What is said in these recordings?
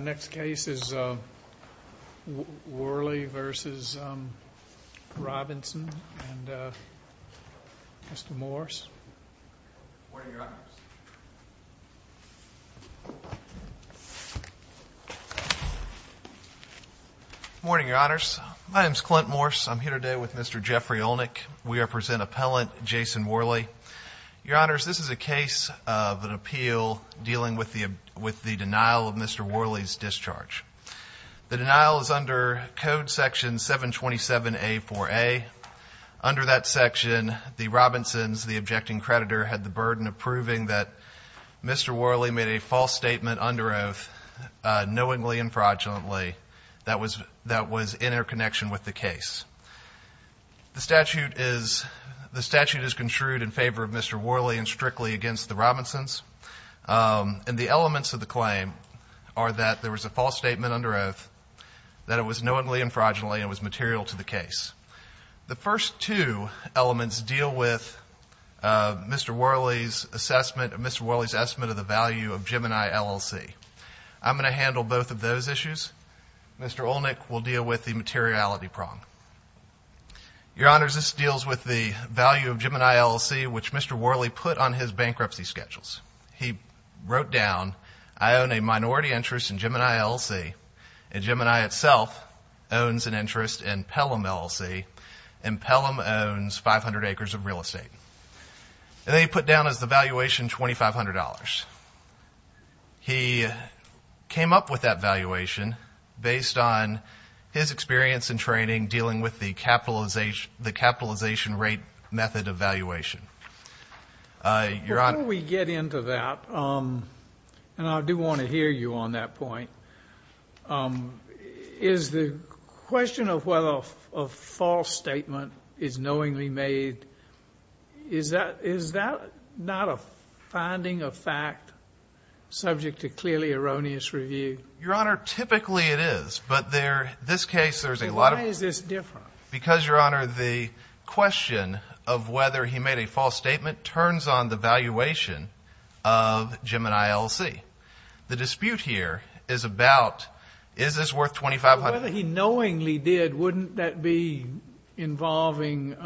Next case is Worley v. Robinson and Mr. Morse. Good morning, Your Honors. My name is Clint Morse. I'm here today with Mr. Jeffrey Olnick. We represent Appellant Jason Worley. Your Honors, this is a case of an appeal dealing with the denial of Mr. Worley's discharge. The denial is under Code Section 727A4A. Under that section, the Robinsons, the objecting creditor, had the burden of proving that Mr. Worley made a false statement under oath knowingly and fraudulently that was in interconnection with the case. The statute is construed in favor of Mr. Worley and strictly against the Robinsons. And the elements of the claim are that there was a false statement under oath, that it was knowingly and fraudulently, and it was material to the case. The first two elements deal with Mr. Worley's assessment, Mr. Worley's estimate of the value of Gemini LLC. I'm going to handle both of those issues. Mr. Olnick will deal with the materiality prong. Your Honors, this deals with the value of Gemini LLC, which Mr. Worley put on his bankruptcy schedules. He wrote down, I own a minority interest in Gemini LLC, and Gemini itself owns an interest in Pelham LLC, and Pelham owns 500 acres of real estate. And they put down as the valuation $2,500. He came up with that valuation based on his experience and training dealing with the capitalization rate method of valuation. Before we get into that, and I do want to hear you on that point, is the question of whether a false statement is knowingly made, is that not a finding of fact subject to clearly erroneous review? Your Honor, typically it is. But this case, there's a lot of— Then why is this different? Because, Your Honor, the question of whether he made a false statement turns on the valuation of Gemini LLC. The dispute here is about is this worth $2,500? Whether he knowingly did, wouldn't that be involving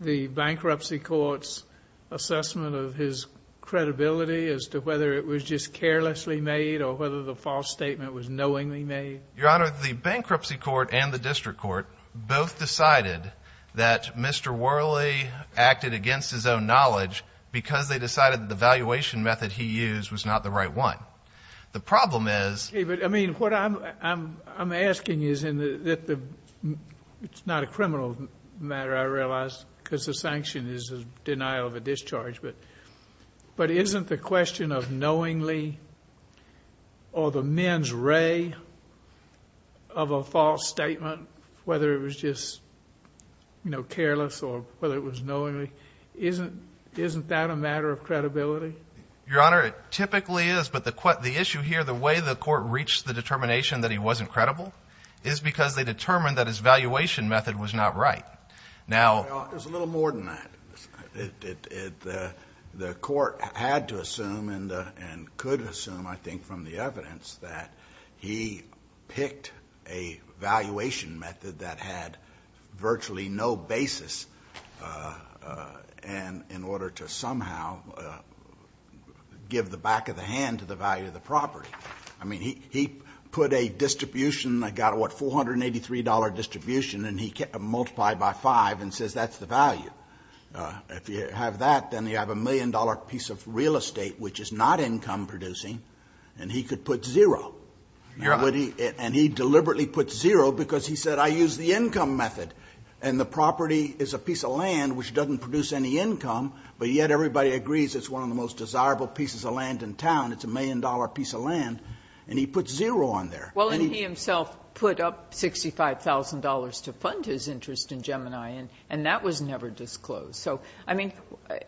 the bankruptcy court's assessment of his credibility as to whether it was just carelessly made or whether the false statement was knowingly made? Your Honor, the bankruptcy court and the district court both decided that Mr. Worley acted against his own knowledge because they decided that the valuation method he used was not the right one. The problem is— But, I mean, what I'm asking is in the—it's not a criminal matter, I realize, because the sanction is a denial of a discharge, but isn't the question of knowingly or the men's ray of a false statement, whether it was just careless or whether it was knowingly, isn't that a matter of credibility? Your Honor, it typically is. But the issue here, the way the court reached the determination that he wasn't credible is because they determined that his valuation method was not right. Now— Well, it was a little more than that. The court had to assume and could assume, I think, from the evidence that he picked a valuation method that had virtually no basis in order to somehow give the back of the hand to the value of the property. I mean, he put a distribution that got a, what, $483 distribution, and he multiplied by 5 and says that's the value. If you have that, then you have a million-dollar piece of real estate which is not income-producing, and he could put zero. Your Honor— And he deliberately put zero because he said, I used the income method, and the property is a piece of land which doesn't produce any income, but yet everybody agrees it's one of the most desirable pieces of land in town. It's a million-dollar piece of land, and he put zero on there. Well, and he himself put up $65,000 to fund his interest in Gemini, and that was never disclosed. So, I mean,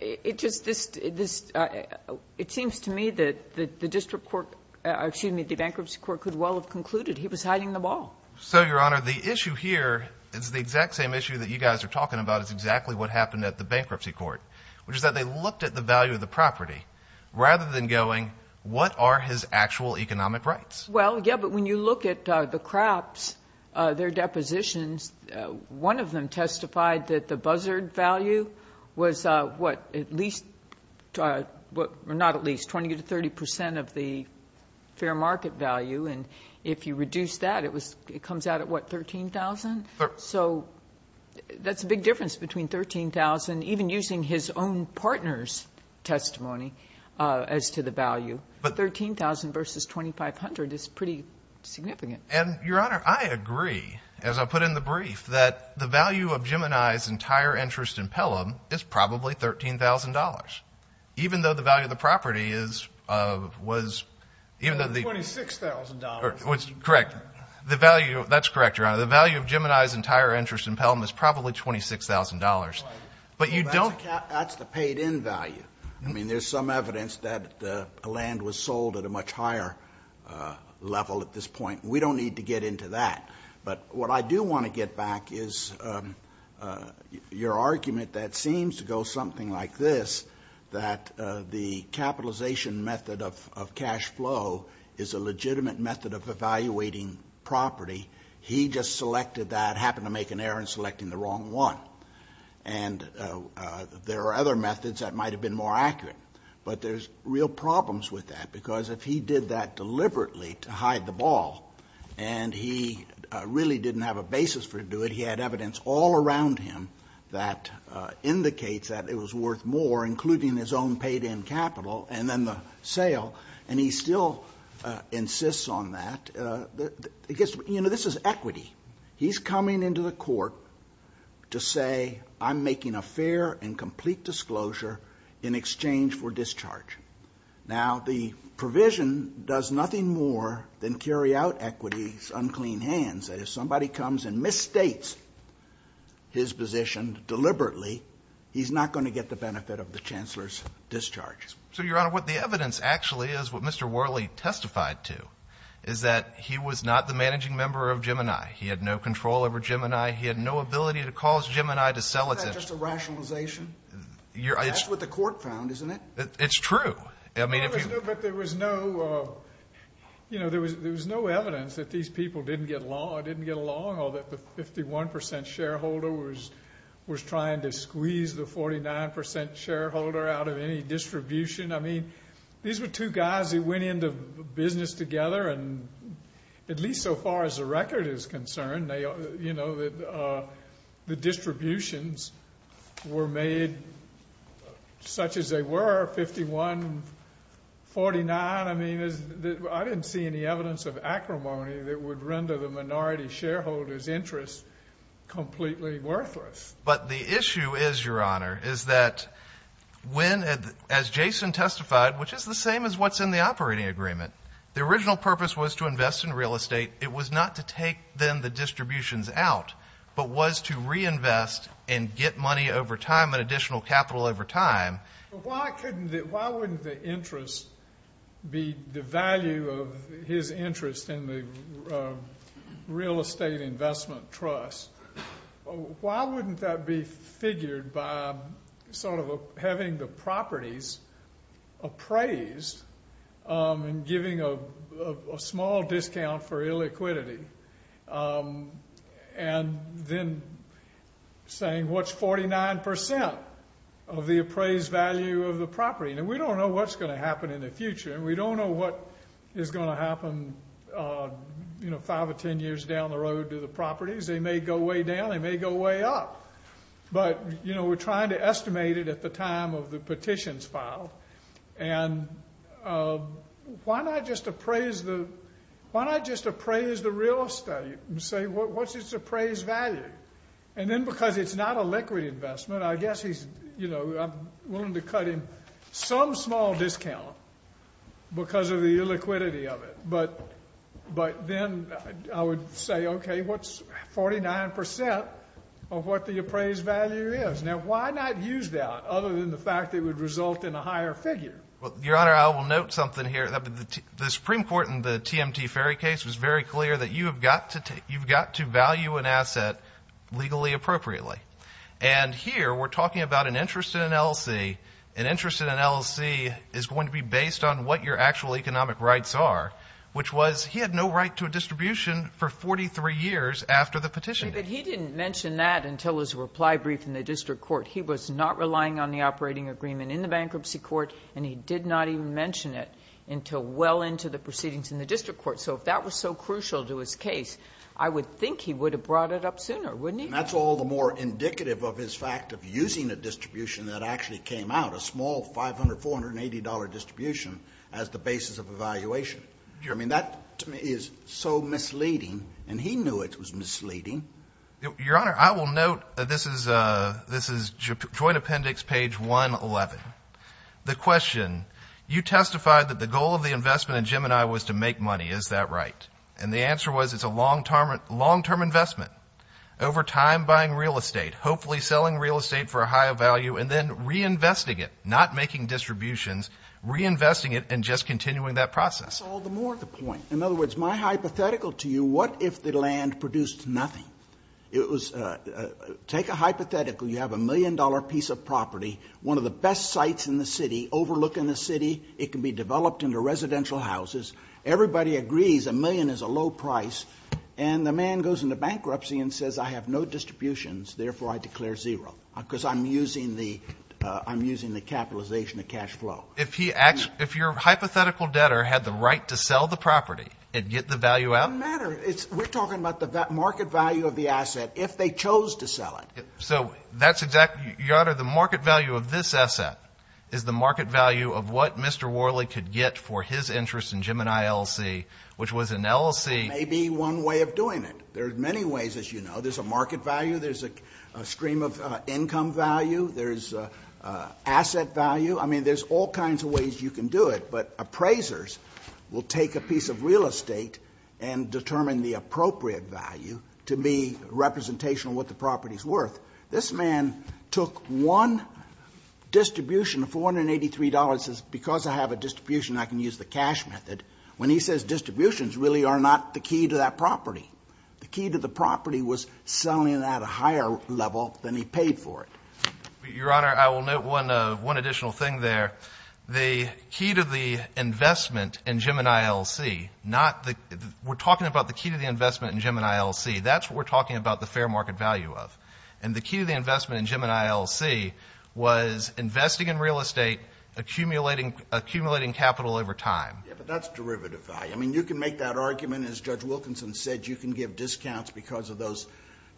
it just—this—it seems to me that the district court— excuse me, the bankruptcy court could well have concluded he was hiding the ball. So, Your Honor, the issue here is the exact same issue that you guys are talking about is exactly what happened at the bankruptcy court, which is that they looked at the value of the property rather than going, what are his actual economic rights? Well, yeah, but when you look at the crops, their depositions, one of them testified that the buzzard value was, what, at least— or not at least, 20 to 30 percent of the fair market value, and if you reduce that, it comes out at, what, $13,000? So, that's a big difference between $13,000, even using his own partner's testimony as to the value. $13,000 versus $2,500 is pretty significant. And, Your Honor, I agree, as I put in the brief, that the value of Gemini's entire interest in Pelham is probably $13,000, even though the value of the property is—was— $26,000. Correct. The value—that's correct, Your Honor. The value of Gemini's entire interest in Pelham is probably $26,000. Right. But you don't— That's the paid-in value. I mean, there's some evidence that the land was sold at a much higher level at this point. We don't need to get into that. But what I do want to get back is your argument that seems to go something like this, that the capitalization method of cash flow is a legitimate method of evaluating property. He just selected that, happened to make an error in selecting the wrong one. And there are other methods that might have been more accurate. But there's real problems with that because if he did that deliberately to hide the ball and he really didn't have a basis for doing it, he had evidence all around him that indicates that it was worth more, including his own paid-in capital and then the sale, and he still insists on that. You know, this is equity. He's coming into the court to say, I'm making a fair and complete disclosure in exchange for discharge. Now, the provision does nothing more than carry out equity's unclean hands, that if somebody comes and misstates his position deliberately, he's not going to get the benefit of the chancellor's discharge. So, Your Honor, what the evidence actually is, what Mr. Worley testified to, is that he was not the managing member of Gemini. He had no control over Gemini. He had no ability to cause Gemini to sell it to him. Isn't that just a rationalization? That's what the court found, isn't it? It's true. But there was no evidence that these people didn't get along or that the 51% shareholder was trying to squeeze the 49% shareholder out of any distribution. I mean, these were two guys who went into business together, and at least so far as the record is concerned, the distributions were made such as they were, 51-49. I mean, I didn't see any evidence of acrimony that would render the minority shareholder's interest completely worthless. But the issue is, Your Honor, is that when, as Jason testified, which is the same as what's in the operating agreement, the original purpose was to invest in real estate. It was not to take then the distributions out, but was to reinvest and get money over time and additional capital over time. Why wouldn't the interest be the value of his interest in the real estate investment trust? Why wouldn't that be figured by sort of having the properties appraised and giving a small discount for illiquidity and then saying what's 49% of the appraised value of the property? Now, we don't know what's going to happen in the future, and we don't know what is going to happen five or ten years down the road to the properties. They may go way down. They may go way up. But, you know, we're trying to estimate it at the time of the petitions filed. And why not just appraise the real estate and say what's its appraised value? And then because it's not a liquid investment, I guess he's, you know, I'm willing to cut him some small discount because of the illiquidity of it. But then I would say, okay, what's 49% of what the appraised value is? Now, why not use that other than the fact it would result in a higher figure? Well, Your Honor, I will note something here. The Supreme Court in the TMT Ferry case was very clear that you've got to value an asset legally appropriately. And here we're talking about an interest in an LLC. An interest in an LLC is going to be based on what your actual economic rights are. Which was he had no right to a distribution for 43 years after the petition. But he didn't mention that until his reply brief in the district court. He was not relying on the operating agreement in the bankruptcy court, and he did not even mention it until well into the proceedings in the district court. So if that was so crucial to his case, I would think he would have brought it up sooner, wouldn't he? And that's all the more indicative of his fact of using a distribution that actually came out, a small $500, $480 distribution as the basis of evaluation. I mean, that is so misleading, and he knew it was misleading. Your Honor, I will note this is Joint Appendix page 111. The question, you testified that the goal of the investment in Gemini was to make money. Is that right? And the answer was it's a long-term investment. Over time buying real estate, hopefully selling real estate for a higher value, and then reinvesting it, not making distributions, reinvesting it, and just continuing that process. That's all the more the point. In other words, my hypothetical to you, what if the land produced nothing? It was, take a hypothetical. You have a million-dollar piece of property, one of the best sites in the city, overlooking the city. It can be developed into residential houses. Everybody agrees a million is a low price, and the man goes into bankruptcy and says, I have no distributions, therefore I declare zero, because I'm using the capitalization of cash flow. If your hypothetical debtor had the right to sell the property and get the value out? It doesn't matter. We're talking about the market value of the asset if they chose to sell it. So that's exactly, Your Honor, the market value of this asset is the market value of what Mr. Worley could get for his interest in Gemini LLC, which was an LLC. There may be one way of doing it. There are many ways, as you know. There's a market value. There's a stream of income value. There's asset value. I mean, there's all kinds of ways you can do it, but appraisers will take a piece of real estate and determine the appropriate value to be representational of what the property is worth. This man took one distribution of $483 and says, because I have a distribution, I can use the cash method, when he says distributions really are not the key to that property. The key to the property was selling it at a higher level than he paid for it. Your Honor, I will note one additional thing there. The key to the investment in Gemini LLC, we're talking about the key to the investment in Gemini LLC. That's what we're talking about the fair market value of. And the key to the investment in Gemini LLC was investing in real estate, accumulating capital over time. But that's derivative value. I mean, you can make that argument, as Judge Wilkinson said, you can give discounts because of those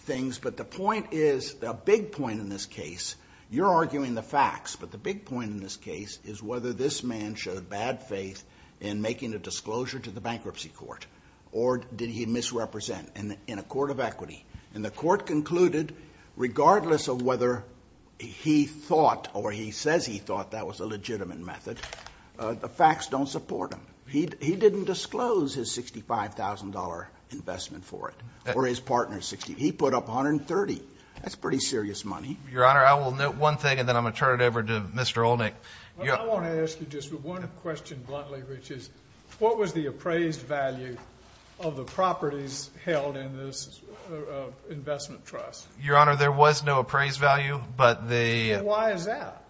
things. But the point is, the big point in this case, you're arguing the facts. But the big point in this case is whether this man showed bad faith in making a disclosure to the bankruptcy court, or did he misrepresent in a court of equity. And the court concluded, regardless of whether he thought or he says he thought that was a legitimate method, the facts don't support him. He didn't disclose his $65,000 investment for it, or his partner's $65,000. He put up $130,000. That's pretty serious money. Your Honor, I will note one thing, and then I'm going to turn it over to Mr. Olnick. I want to ask you just one question bluntly, which is, what was the appraised value of the properties held in this investment trust? Your Honor, there was no appraised value. And why is that?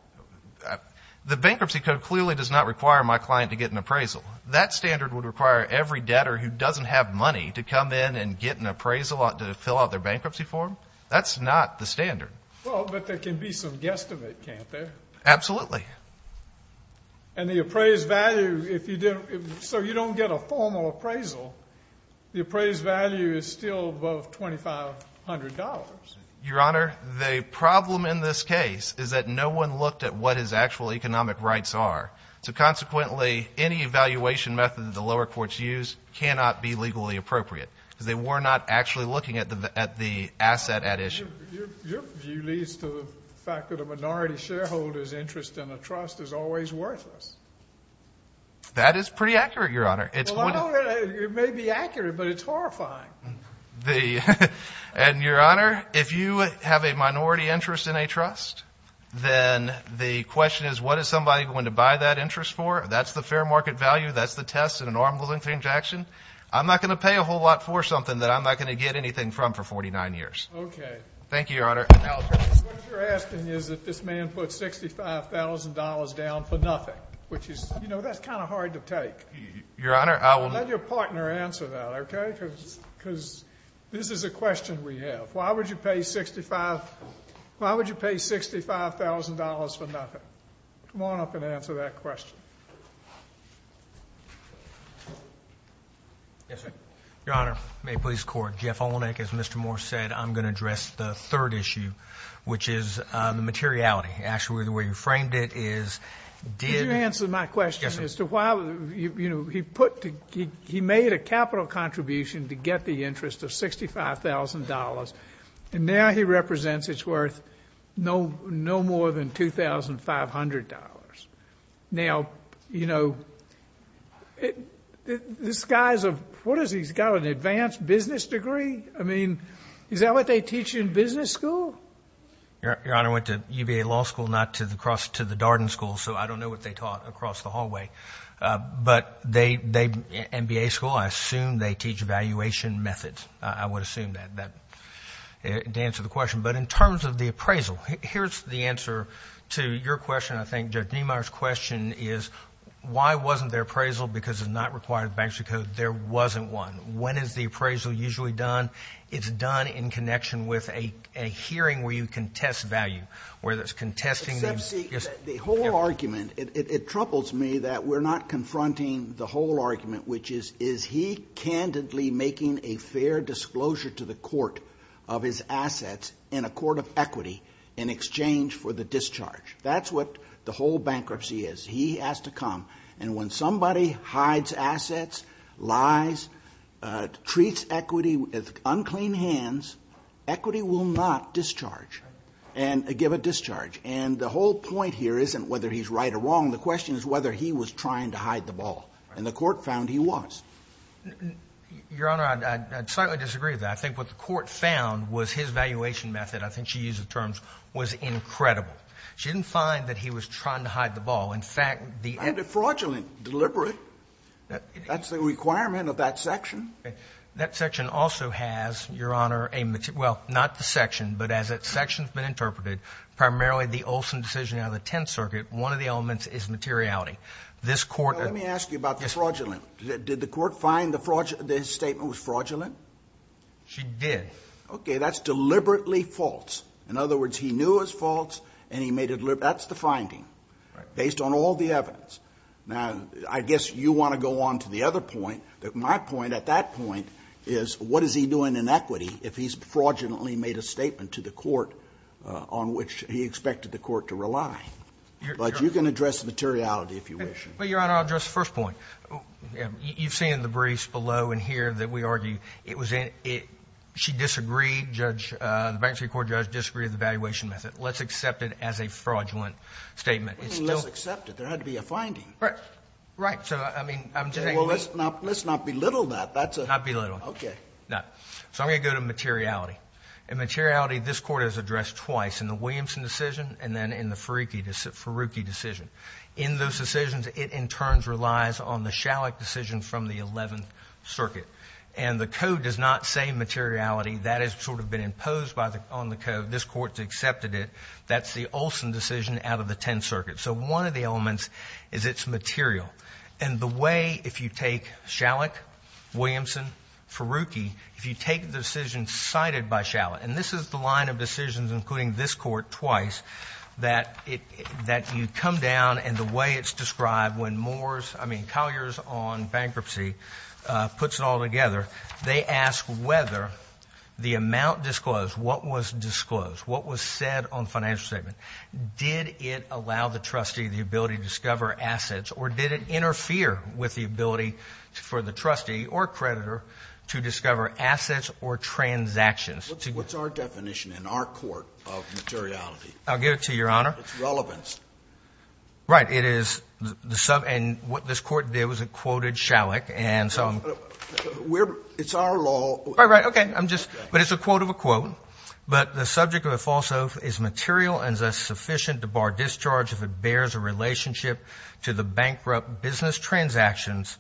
The bankruptcy code clearly does not require my client to get an appraisal. That standard would require every debtor who doesn't have money to come in and get an appraisal to fill out their bankruptcy form. That's not the standard. Well, but there can be some guesstimate, can't there? Absolutely. And the appraised value, if you didn't, so you don't get a formal appraisal, the appraised value is still above $2,500. Your Honor, the problem in this case is that no one looked at what his actual economic rights are. So, consequently, any evaluation method that the lower courts used cannot be legally appropriate because they were not actually looking at the asset at issue. Your view leads to the fact that a minority shareholder's interest in a trust is always worthless. That is pretty accurate, Your Honor. It may be accurate, but it's horrifying. And, Your Honor, if you have a minority interest in a trust, then the question is what is somebody going to buy that interest for? That's the fair market value. That's the test in an arm's length transaction. I'm not going to pay a whole lot for something that I'm not going to get anything from for 49 years. Okay. Thank you, Your Honor. What you're asking is that this man put $65,000 down for nothing, which is, you know, that's kind of hard to take. Your Honor, I will— Let your partner answer that, okay? Because this is a question we have. Why would you pay $65,000 for nothing? Come on up and answer that question. Yes, sir. Your Honor, may it please the Court, Jeff Olenek, as Mr. Moore said, I'm going to address the third issue, which is the materiality. Actually, the way you framed it is did— Could you answer my question as to why, you know, he made a capital contribution to get the interest of $65,000, and now he represents it's worth no more than $2,500. Now, you know, this guy's a—what is he? He's got an advanced business degree? I mean, is that what they teach you in business school? Your Honor, I went to UVA Law School, not to the—across to the Darden School, so I don't know what they taught across the hallway. But they—MBA school, I assume they teach valuation methods. I would assume that to answer the question. But in terms of the appraisal, here's the answer to your question, I think. Judge Niemeyer's question is why wasn't there appraisal because it's not required in the Bankruptcy Code. There wasn't one. When is the appraisal usually done? It's done in connection with a hearing where you contest value, where there's contesting the— Except, see, the whole argument, it troubles me that we're not confronting the whole argument, which is, is he candidly making a fair disclosure to the court of his assets in a court of equity in exchange for the discharge? That's what the whole bankruptcy is. He has to come. And when somebody hides assets, lies, treats equity with unclean hands, equity will not discharge and give a discharge. And the whole point here isn't whether he's right or wrong. The question is whether he was trying to hide the ball. And the court found he was. Your Honor, I'd slightly disagree with that. I think what the court found was his valuation method, I think she used the terms, was incredible. She didn't find that he was trying to hide the ball. In fact, the— And a fraudulent deliberate. That's the requirement of that section. That section also has, Your Honor, a—well, not the section, but as that section has been interpreted, primarily the Olson decision out of the Tenth Circuit, one of the elements is materiality. This court— Now, let me ask you about the fraudulent. Did the court find that his statement was fraudulent? She did. Okay, that's deliberately false. In other words, he knew it was false and he made it—that's the finding. Based on all the evidence. Now, I guess you want to go on to the other point. My point at that point is what is he doing in equity if he's fraudulently made a statement to the court on which he expected the court to rely? But you can address materiality if you wish. Well, Your Honor, I'll address the first point. You've seen the briefs below and here that we argue it was in—she disagreed. Judge, the Bank Street Court judge disagreed with the valuation method. Let's accept it as a fraudulent statement. It's still— What do you mean let's accept it? There had to be a finding. Right. So, I mean, I'm just saying— Well, let's not belittle that. That's a— Not belittle. Okay. So I'm going to go to materiality. In materiality, this Court has addressed twice, in the Williamson decision and then in the Faruqi decision. In those decisions, it in turn relies on the Shalek decision from the Eleventh Circuit. And the Code does not say materiality. That has sort of been imposed on the Code. This Court has accepted it. That's the Olson decision out of the Tenth Circuit. So one of the elements is it's material. And the way, if you take Shalek, Williamson, Faruqi, if you take the decision cited by Shalek— and this is the line of decisions including this Court twice— that you come down and the way it's described when Moore's—I mean Collier's on bankruptcy puts it all together, they ask whether the amount disclosed, what was disclosed, what was said on the financial statement, did it allow the trustee the ability to discover assets, or did it interfere with the ability for the trustee or creditor to discover assets or transactions? What's our definition in our court of materiality? I'll give it to Your Honor. It's relevance. Right. It is—and what this Court did was it quoted Shalek. And so— It's our law. Right, right. Okay. I'm just—but it's a quote of a quote. But the subject of a false oath is material and thus sufficient to bar discharge if it bears a relationship to the bankrupt business transactions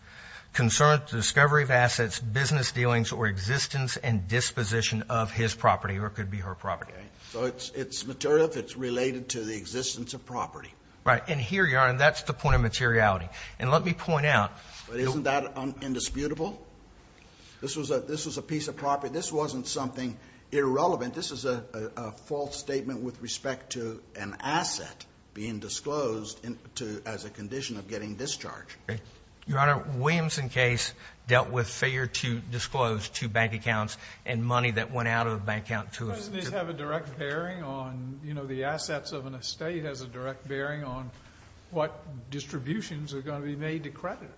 concerned with the discovery of assets, business dealings, or existence and disposition of his property or it could be her property. Right. So it's material if it's related to the existence of property. Right. And here, Your Honor, that's the point of materiality. And let me point out— But isn't that indisputable? This was a piece of property. This wasn't something irrelevant. This is a false statement with respect to an asset being disclosed as a condition of getting discharged. Your Honor, Williamson case dealt with failure to disclose two bank accounts and money that went out of the bank account to— Doesn't this have a direct bearing on—you know, the assets of an estate has a direct bearing on what distributions are going to be made to creditors?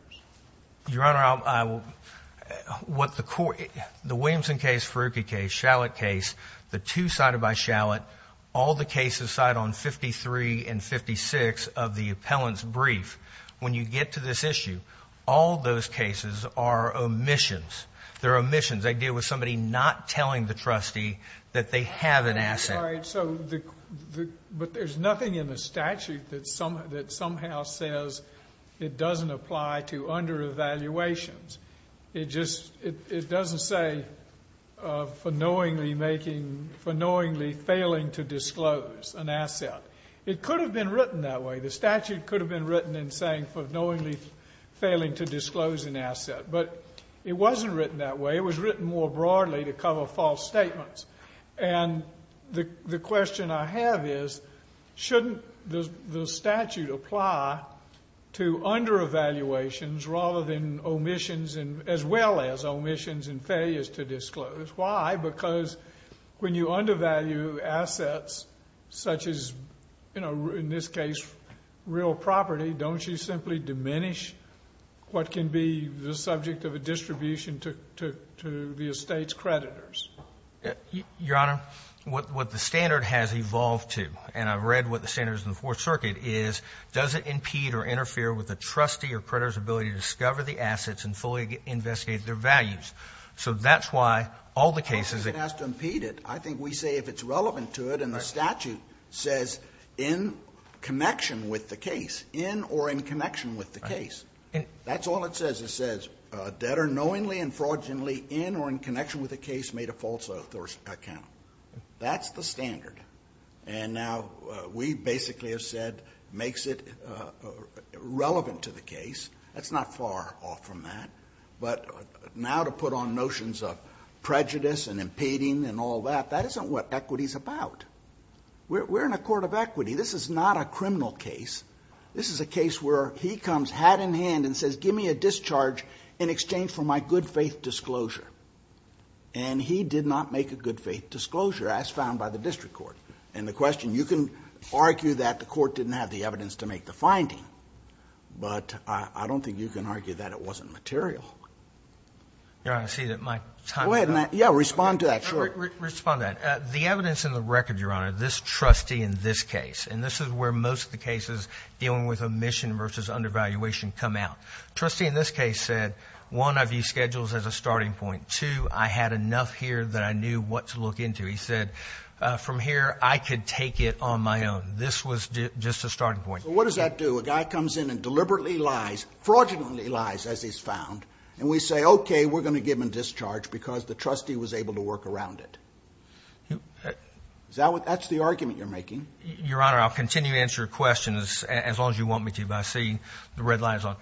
Your Honor, what the court—the Williamson case, Faruqi case, Shallot case, the two cited by Shallot, all the cases cited on 53 and 56 of the appellant's brief, when you get to this issue, all those cases are omissions. They're omissions. They deal with somebody not telling the trustee that they have an asset. But there's nothing in the statute that somehow says it doesn't apply to under-evaluations. It just—it doesn't say for knowingly making—for knowingly failing to disclose an asset. It could have been written that way. The statute could have been written in saying for knowingly failing to disclose an asset. But it wasn't written that way. It was written more broadly to cover false statements. And the question I have is, shouldn't the statute apply to under-evaluations rather than omissions as well as omissions and failures to disclose? Why? Because when you undervalue assets such as, you know, in this case, real property, don't you simply diminish what can be the subject of a distribution to the estate's creditors? Your Honor, what the standard has evolved to, and I've read what the standard is in the Fourth Circuit, is does it impede or interfere with the trustee or creditor's ability to discover the assets and fully investigate their values? So that's why all the cases— Of course it has to impede it. I think we say if it's relevant to it. And the statute says in connection with the case, in or in connection with the case. That's all it says. The statute says debtor knowingly and fraudulently in or in connection with the case made a false account. That's the standard. And now we basically have said makes it relevant to the case. That's not far off from that. But now to put on notions of prejudice and impeding and all that, that isn't what equity is about. We're in a court of equity. This is not a criminal case. This is a case where he comes hat in hand and says give me a discharge in exchange for my good faith disclosure. And he did not make a good faith disclosure as found by the district court. And the question—you can argue that the court didn't have the evidence to make the finding, but I don't think you can argue that it wasn't material. Your Honor, I see that my time is up. Yeah, respond to that. Sure. Respond to that. The evidence in the record, Your Honor, this trustee in this case, and this is where most of the cases dealing with omission versus undervaluation come out. The trustee in this case said, one, I view schedules as a starting point. Two, I had enough here that I knew what to look into. He said from here I could take it on my own. This was just a starting point. So what does that do? A guy comes in and deliberately lies, fraudulently lies, as he's found, and we say, okay, we're going to give him a discharge because the trustee was able to work around it. That's the argument you're making. Your Honor, I'll continue to answer your questions as long as you want me to, but I see the red light is on.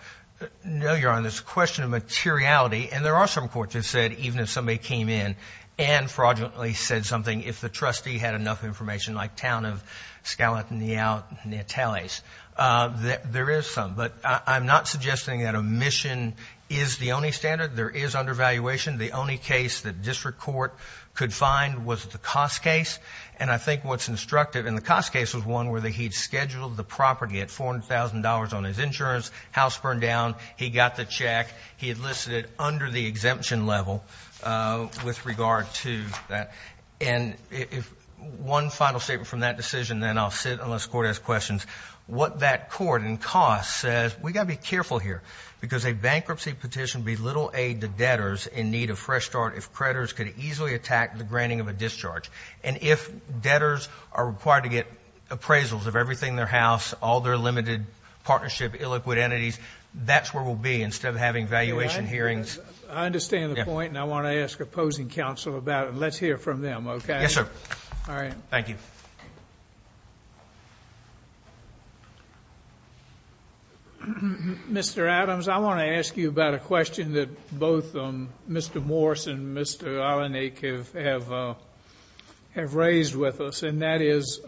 No, Your Honor, it's a question of materiality, and there are some courts that said even if somebody came in and fraudulently said something, if the trustee had enough information, like Town of Scalatineo Natales, there is some. But I'm not suggesting that omission is the only standard. There is undervaluation. The only case that district court could find was the cost case, and I think what's instructive in the cost case was one where he had scheduled the property at $400,000 on his insurance. House burned down. He got the check. He enlisted under the exemption level with regard to that. And one final statement from that decision, and then I'll sit unless the Court has questions. What that court in cost says, we've got to be careful here because a bankruptcy petition would be little aid to debtors in need of fresh start if creditors could easily attack the granting of a discharge. And if debtors are required to get appraisals of everything in their house, all their limited partnership, illiquid entities, that's where we'll be instead of having valuation hearings. I understand the point, and I want to ask opposing counsel about it. Let's hear from them, okay? Yes, sir. All right. Thank you. Thank you. Mr. Adams, I want to ask you about a question that both Mr. Morse and Mr. Allinique have raised with us, and that is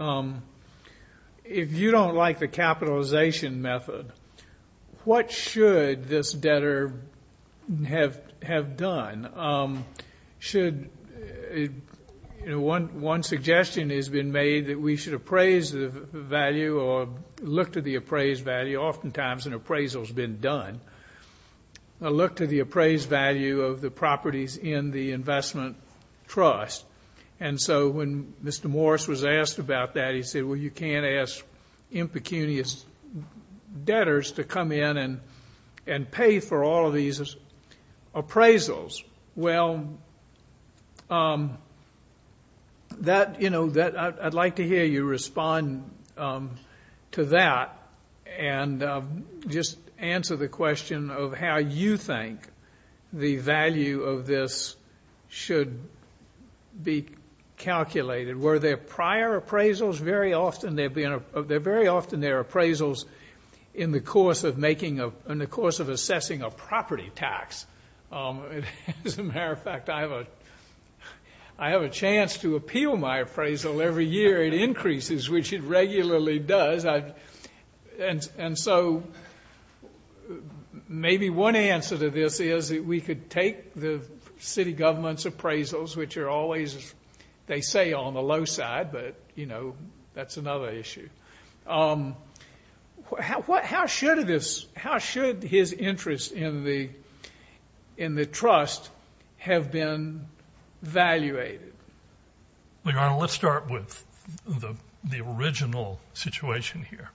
if you don't like the capitalization method, what should this debtor have done? One suggestion has been made that we should appraise the value or look to the appraised value. Oftentimes an appraisal has been done. Look to the appraised value of the properties in the investment trust. And so when Mr. Morse was asked about that, he said, well, you can't ask impecunious debtors to come in and pay for all of these appraisals. Well, that, you know, I'd like to hear you respond to that and just answer the question of how you think the value of this should be calculated. Were there prior appraisals? Very often there are appraisals in the course of assessing a property tax. As a matter of fact, I have a chance to appeal my appraisal every year. It increases, which it regularly does. And so maybe one answer to this is that we could take the city government's appraisals, which are always, they say, on the low side, but, you know, that's another issue. How should his interest in the trust have been evaluated? Well, Your Honor, let's start with the original situation here.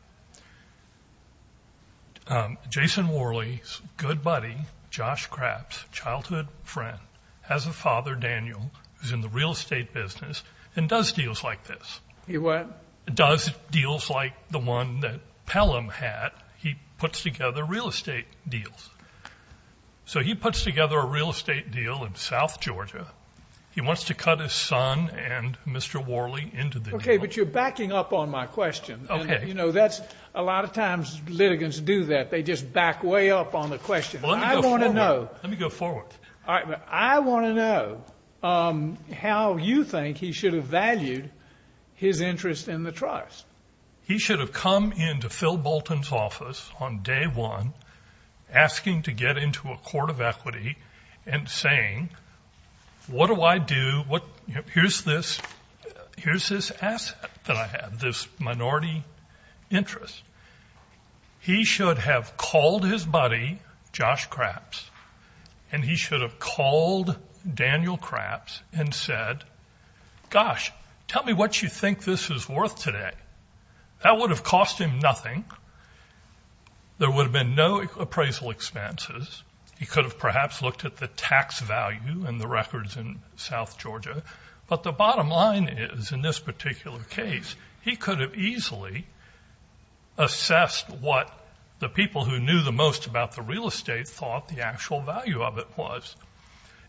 Jason Worley's good buddy, Josh Kraps, childhood friend, has a father, Daniel, who's in the real estate business and does deals like this. He what? Does deals like the one that Pelham had. He puts together real estate deals. So he puts together a real estate deal in south Georgia. He wants to cut his son and Mr. Worley into the deal. Okay, but you're backing up on my question. Okay. You know, that's a lot of times litigants do that. They just back way up on the question. I want to know. Let me go forward. All right, but I want to know how you think he should have valued his interest in the trust. He should have come into Phil Bolton's office on day one asking to get into a court of equity and saying, what do I do? Here's this asset that I have, this minority interest. He should have called his buddy, Josh Kraps, and he should have called Daniel Kraps and said, gosh, tell me what you think this is worth today. That would have cost him nothing. There would have been no appraisal expenses. He could have perhaps looked at the tax value and the records in south Georgia. But the bottom line is, in this particular case, he could have easily assessed what the people who knew the most about the real estate thought the actual value of it was.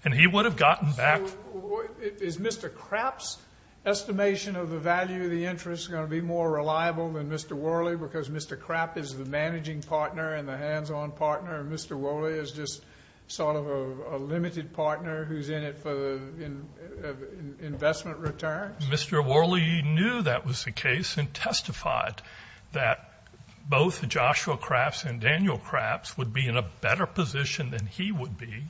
And he would have gotten back. So is Mr. Kraps' estimation of the value of the interest going to be more reliable than Mr. Worley because Mr. Kraps is the managing partner and the hands-on partner, and Mr. Worley is just sort of a limited partner who's in it for the investment return? Mr. Worley knew that was the case and testified that both Joshua Kraps and Daniel Kraps would be in a better position than he would be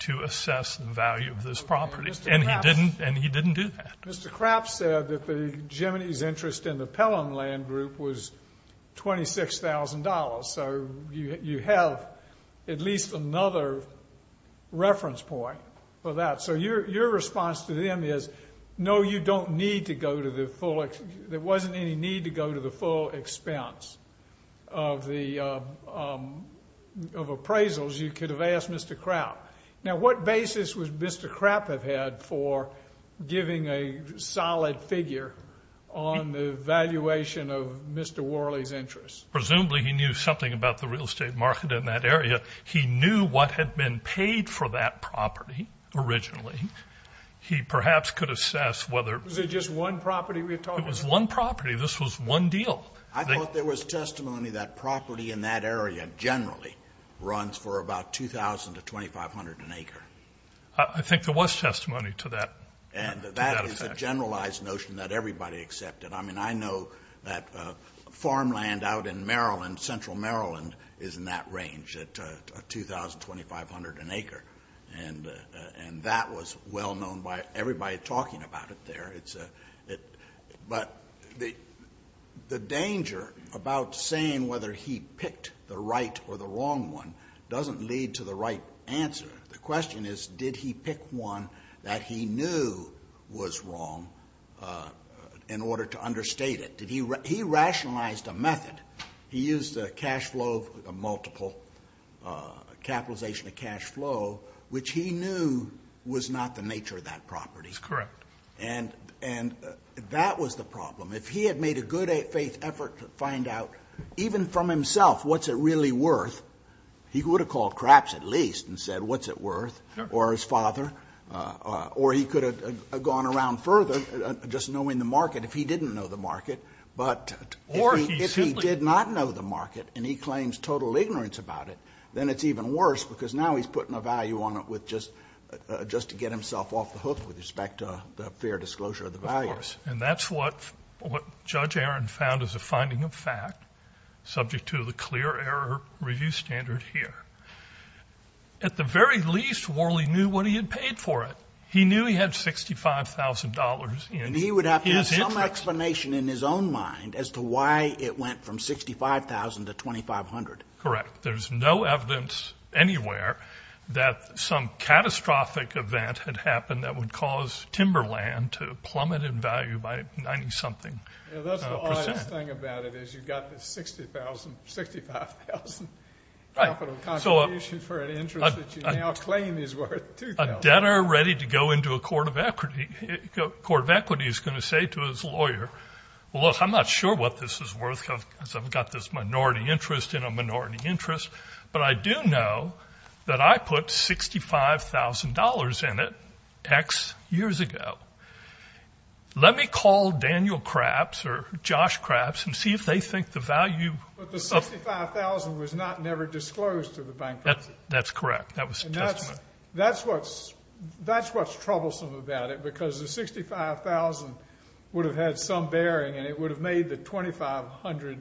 to assess the value of this property, and he didn't do that. Mr. Kraps said that the Gemini's interest in the Pellon land group was $26,000, so you have at least another reference point for that. So your response to them is, no, you don't need to go to the full expense. There wasn't any need to go to the full expense of appraisals. You could have asked Mr. Kraps. Now, what basis would Mr. Kraps have had for giving a solid figure on the valuation of Mr. Worley's interest? Presumably he knew something about the real estate market in that area. He knew what had been paid for that property originally. He perhaps could assess whether it was one property. This was one deal. I thought there was testimony that property in that area generally runs for about $2,000 to $2,500 an acre. I think there was testimony to that effect. And that is a generalized notion that everybody accepted. I mean, I know that farmland out in Maryland, central Maryland, is in that range at $2,000 to $2,500 an acre, and that was well known by everybody talking about it there. But the danger about saying whether he picked the right or the wrong one doesn't lead to the right answer. The question is, did he pick one that he knew was wrong in order to understate it? He rationalized a method. He used a cash flow, a multiple, capitalization of cash flow, which he knew was not the nature of that property. That's correct. And that was the problem. If he had made a good faith effort to find out, even from himself, what's it really worth, he would have called craps at least and said what's it worth, or his father, or he could have gone around further just knowing the market if he didn't know the market. But if he did not know the market and he claims total ignorance about it, then it's even worse because now he's putting a value on it just to get himself off the hook with respect to fair disclosure of the values. Of course. And that's what Judge Aaron found as a finding of fact, subject to the clear error review standard here. At the very least, Worley knew what he had paid for it. He knew he had $65,000 in his interest. And he would have to have some explanation in his own mind as to why it went from $65,000 to $2,500. Correct. There's no evidence anywhere that some catastrophic event had happened that would cause timberland to plummet in value by 90-something percent. That's the oddest thing about it is you've got this $65,000 capital contribution for an interest that you now claim is worth $2,000. A debtor ready to go into a court of equity is going to say to his lawyer, well, look, I'm not sure what this is worth because I've got this minority interest in a minority interest, but I do know that I put $65,000 in it X years ago. Let me call Daniel Kraps or Josh Kraps and see if they think the value of the $65,000 was never disclosed to the bankruptcy. That's correct. That was a testament. That's what's troublesome about it because the $65,000 would have had some bearing and it would have made the $2,500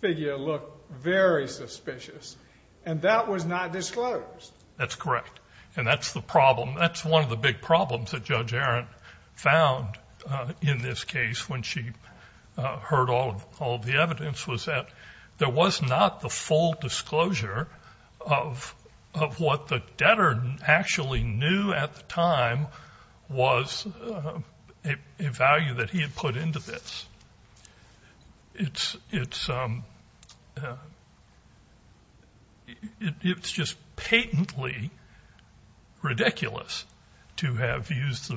figure look very suspicious. And that was not disclosed. That's correct. And that's the problem. That's one of the big problems that Judge Arendt found in this case when she heard all of the evidence was that there was not the full disclosure of what the debtor actually knew at the time was a value that he had put into this. It's just patently ridiculous to have used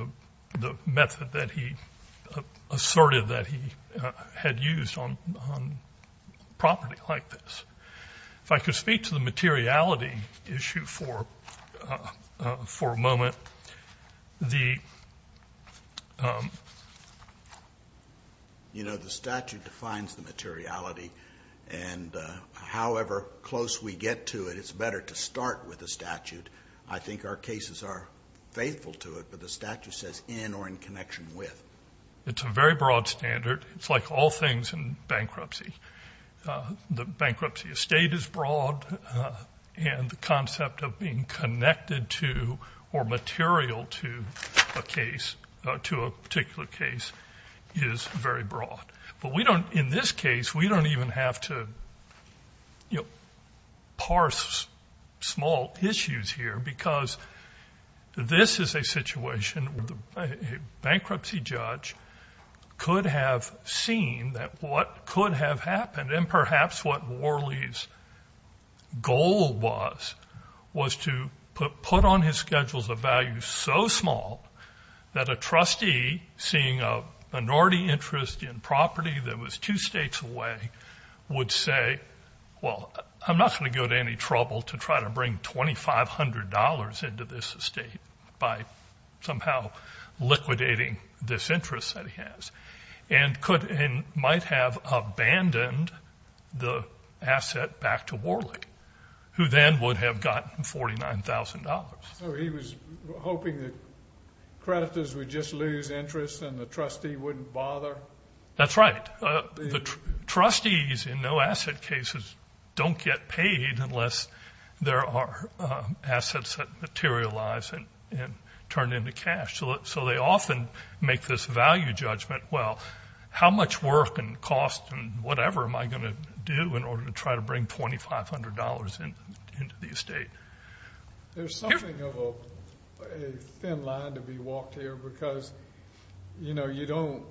the method that he asserted that he had used on property like this. If I could speak to the materiality issue for a moment. The statute defines the materiality, and however close we get to it, it's better to start with the statute. I think our cases are faithful to it, but the statute says in or in connection with. It's a very broad standard. It's like all things in bankruptcy. The bankruptcy estate is broad, and the concept of being connected to or material to a case, to a particular case, is very broad. But we don't, in this case, we don't even have to, you know, parse small issues here because this is a situation where a bankruptcy judge could have seen that what could have happened, and perhaps what Worley's goal was, was to put on his schedules a value so small that a trustee, seeing a minority interest in property that was two states away, would say, well, I'm not going to go to any trouble to try to bring $2,500 into this estate by somehow liquidating this interest that he has, and might have abandoned the asset back to Worley, who then would have gotten $49,000. So he was hoping that creditors would just lose interest and the trustee wouldn't bother? That's right. The trustees in no-asset cases don't get paid unless there are assets that materialize and turn into cash. So they often make this value judgment, well, how much work and cost and whatever am I going to do in order to try to bring $2,500 into the estate? There's something of a thin line to be walked here because, you know, you don't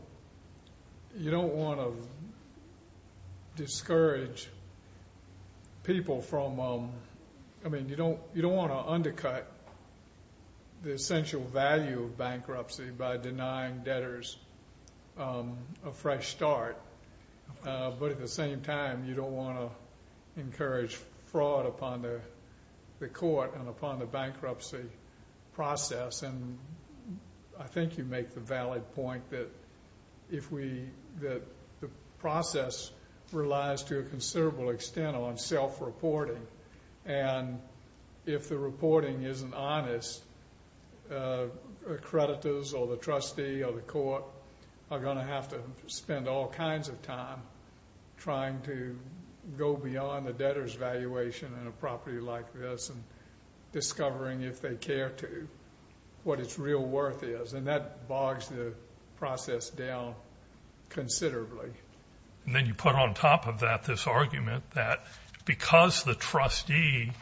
want to discourage people from, I mean, you don't want to undercut the essential value of bankruptcy by denying debtors a fresh start, but at the same time, you don't want to encourage fraud upon the court and upon the bankruptcy process. And I think you make the valid point that the process relies to a considerable extent on self-reporting, and if the reporting isn't honest, creditors or the trustee or the court are going to have to spend all kinds of time trying to go beyond the debtor's valuation in a property like this and discovering if they care to what its real worth is, and that bogs the process down considerably. And then you put on top of that this argument that because the trustee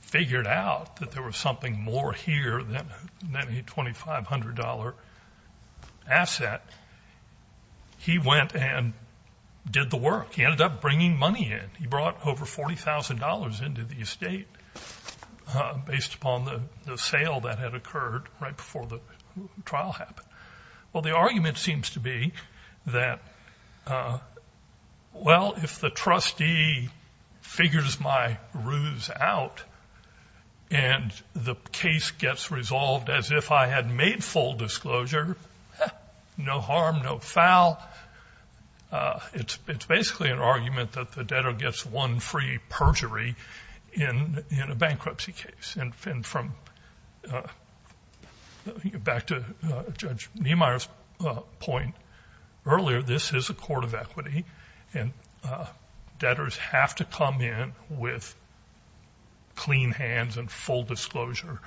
figured out that there was something more here than a $2,500 asset, he went and did the work. He ended up bringing money in. He brought over $40,000 into the estate based upon the sale that had occurred right before the trial happened. Well, the argument seems to be that, well, if the trustee figures my ruse out and the case gets resolved as if I had made full disclosure, no harm, no foul, it's basically an argument that the debtor gets one free perjury in a bankruptcy case. And from back to Judge Niemeyer's point earlier, this is a court of equity, and debtors have to come in with clean hands and full disclosure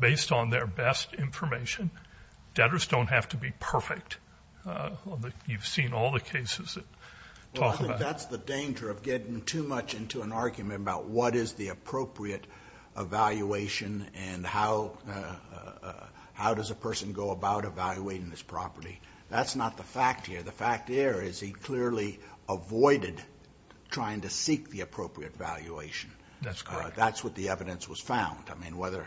based on their best information. Debtors don't have to be perfect. You've seen all the cases that talk about that. That's the danger of getting too much into an argument about what is the appropriate evaluation and how does a person go about evaluating this property. That's not the fact here. The fact here is he clearly avoided trying to seek the appropriate valuation. That's correct. That's what the evidence was found, I mean, whether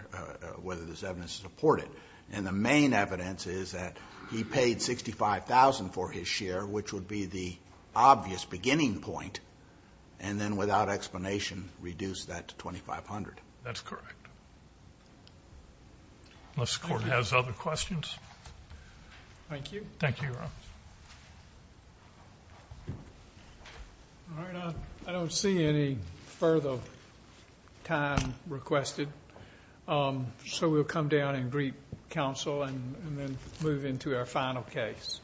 there's evidence to support it. And the main evidence is that he paid $65,000 for his share, which would be the obvious beginning point, and then without explanation reduced that to $2,500. That's correct. Unless the Court has other questions. Thank you. Thank you, Your Honor. All right, I don't see any further time requested, so we'll come down and greet counsel and then move into our final case.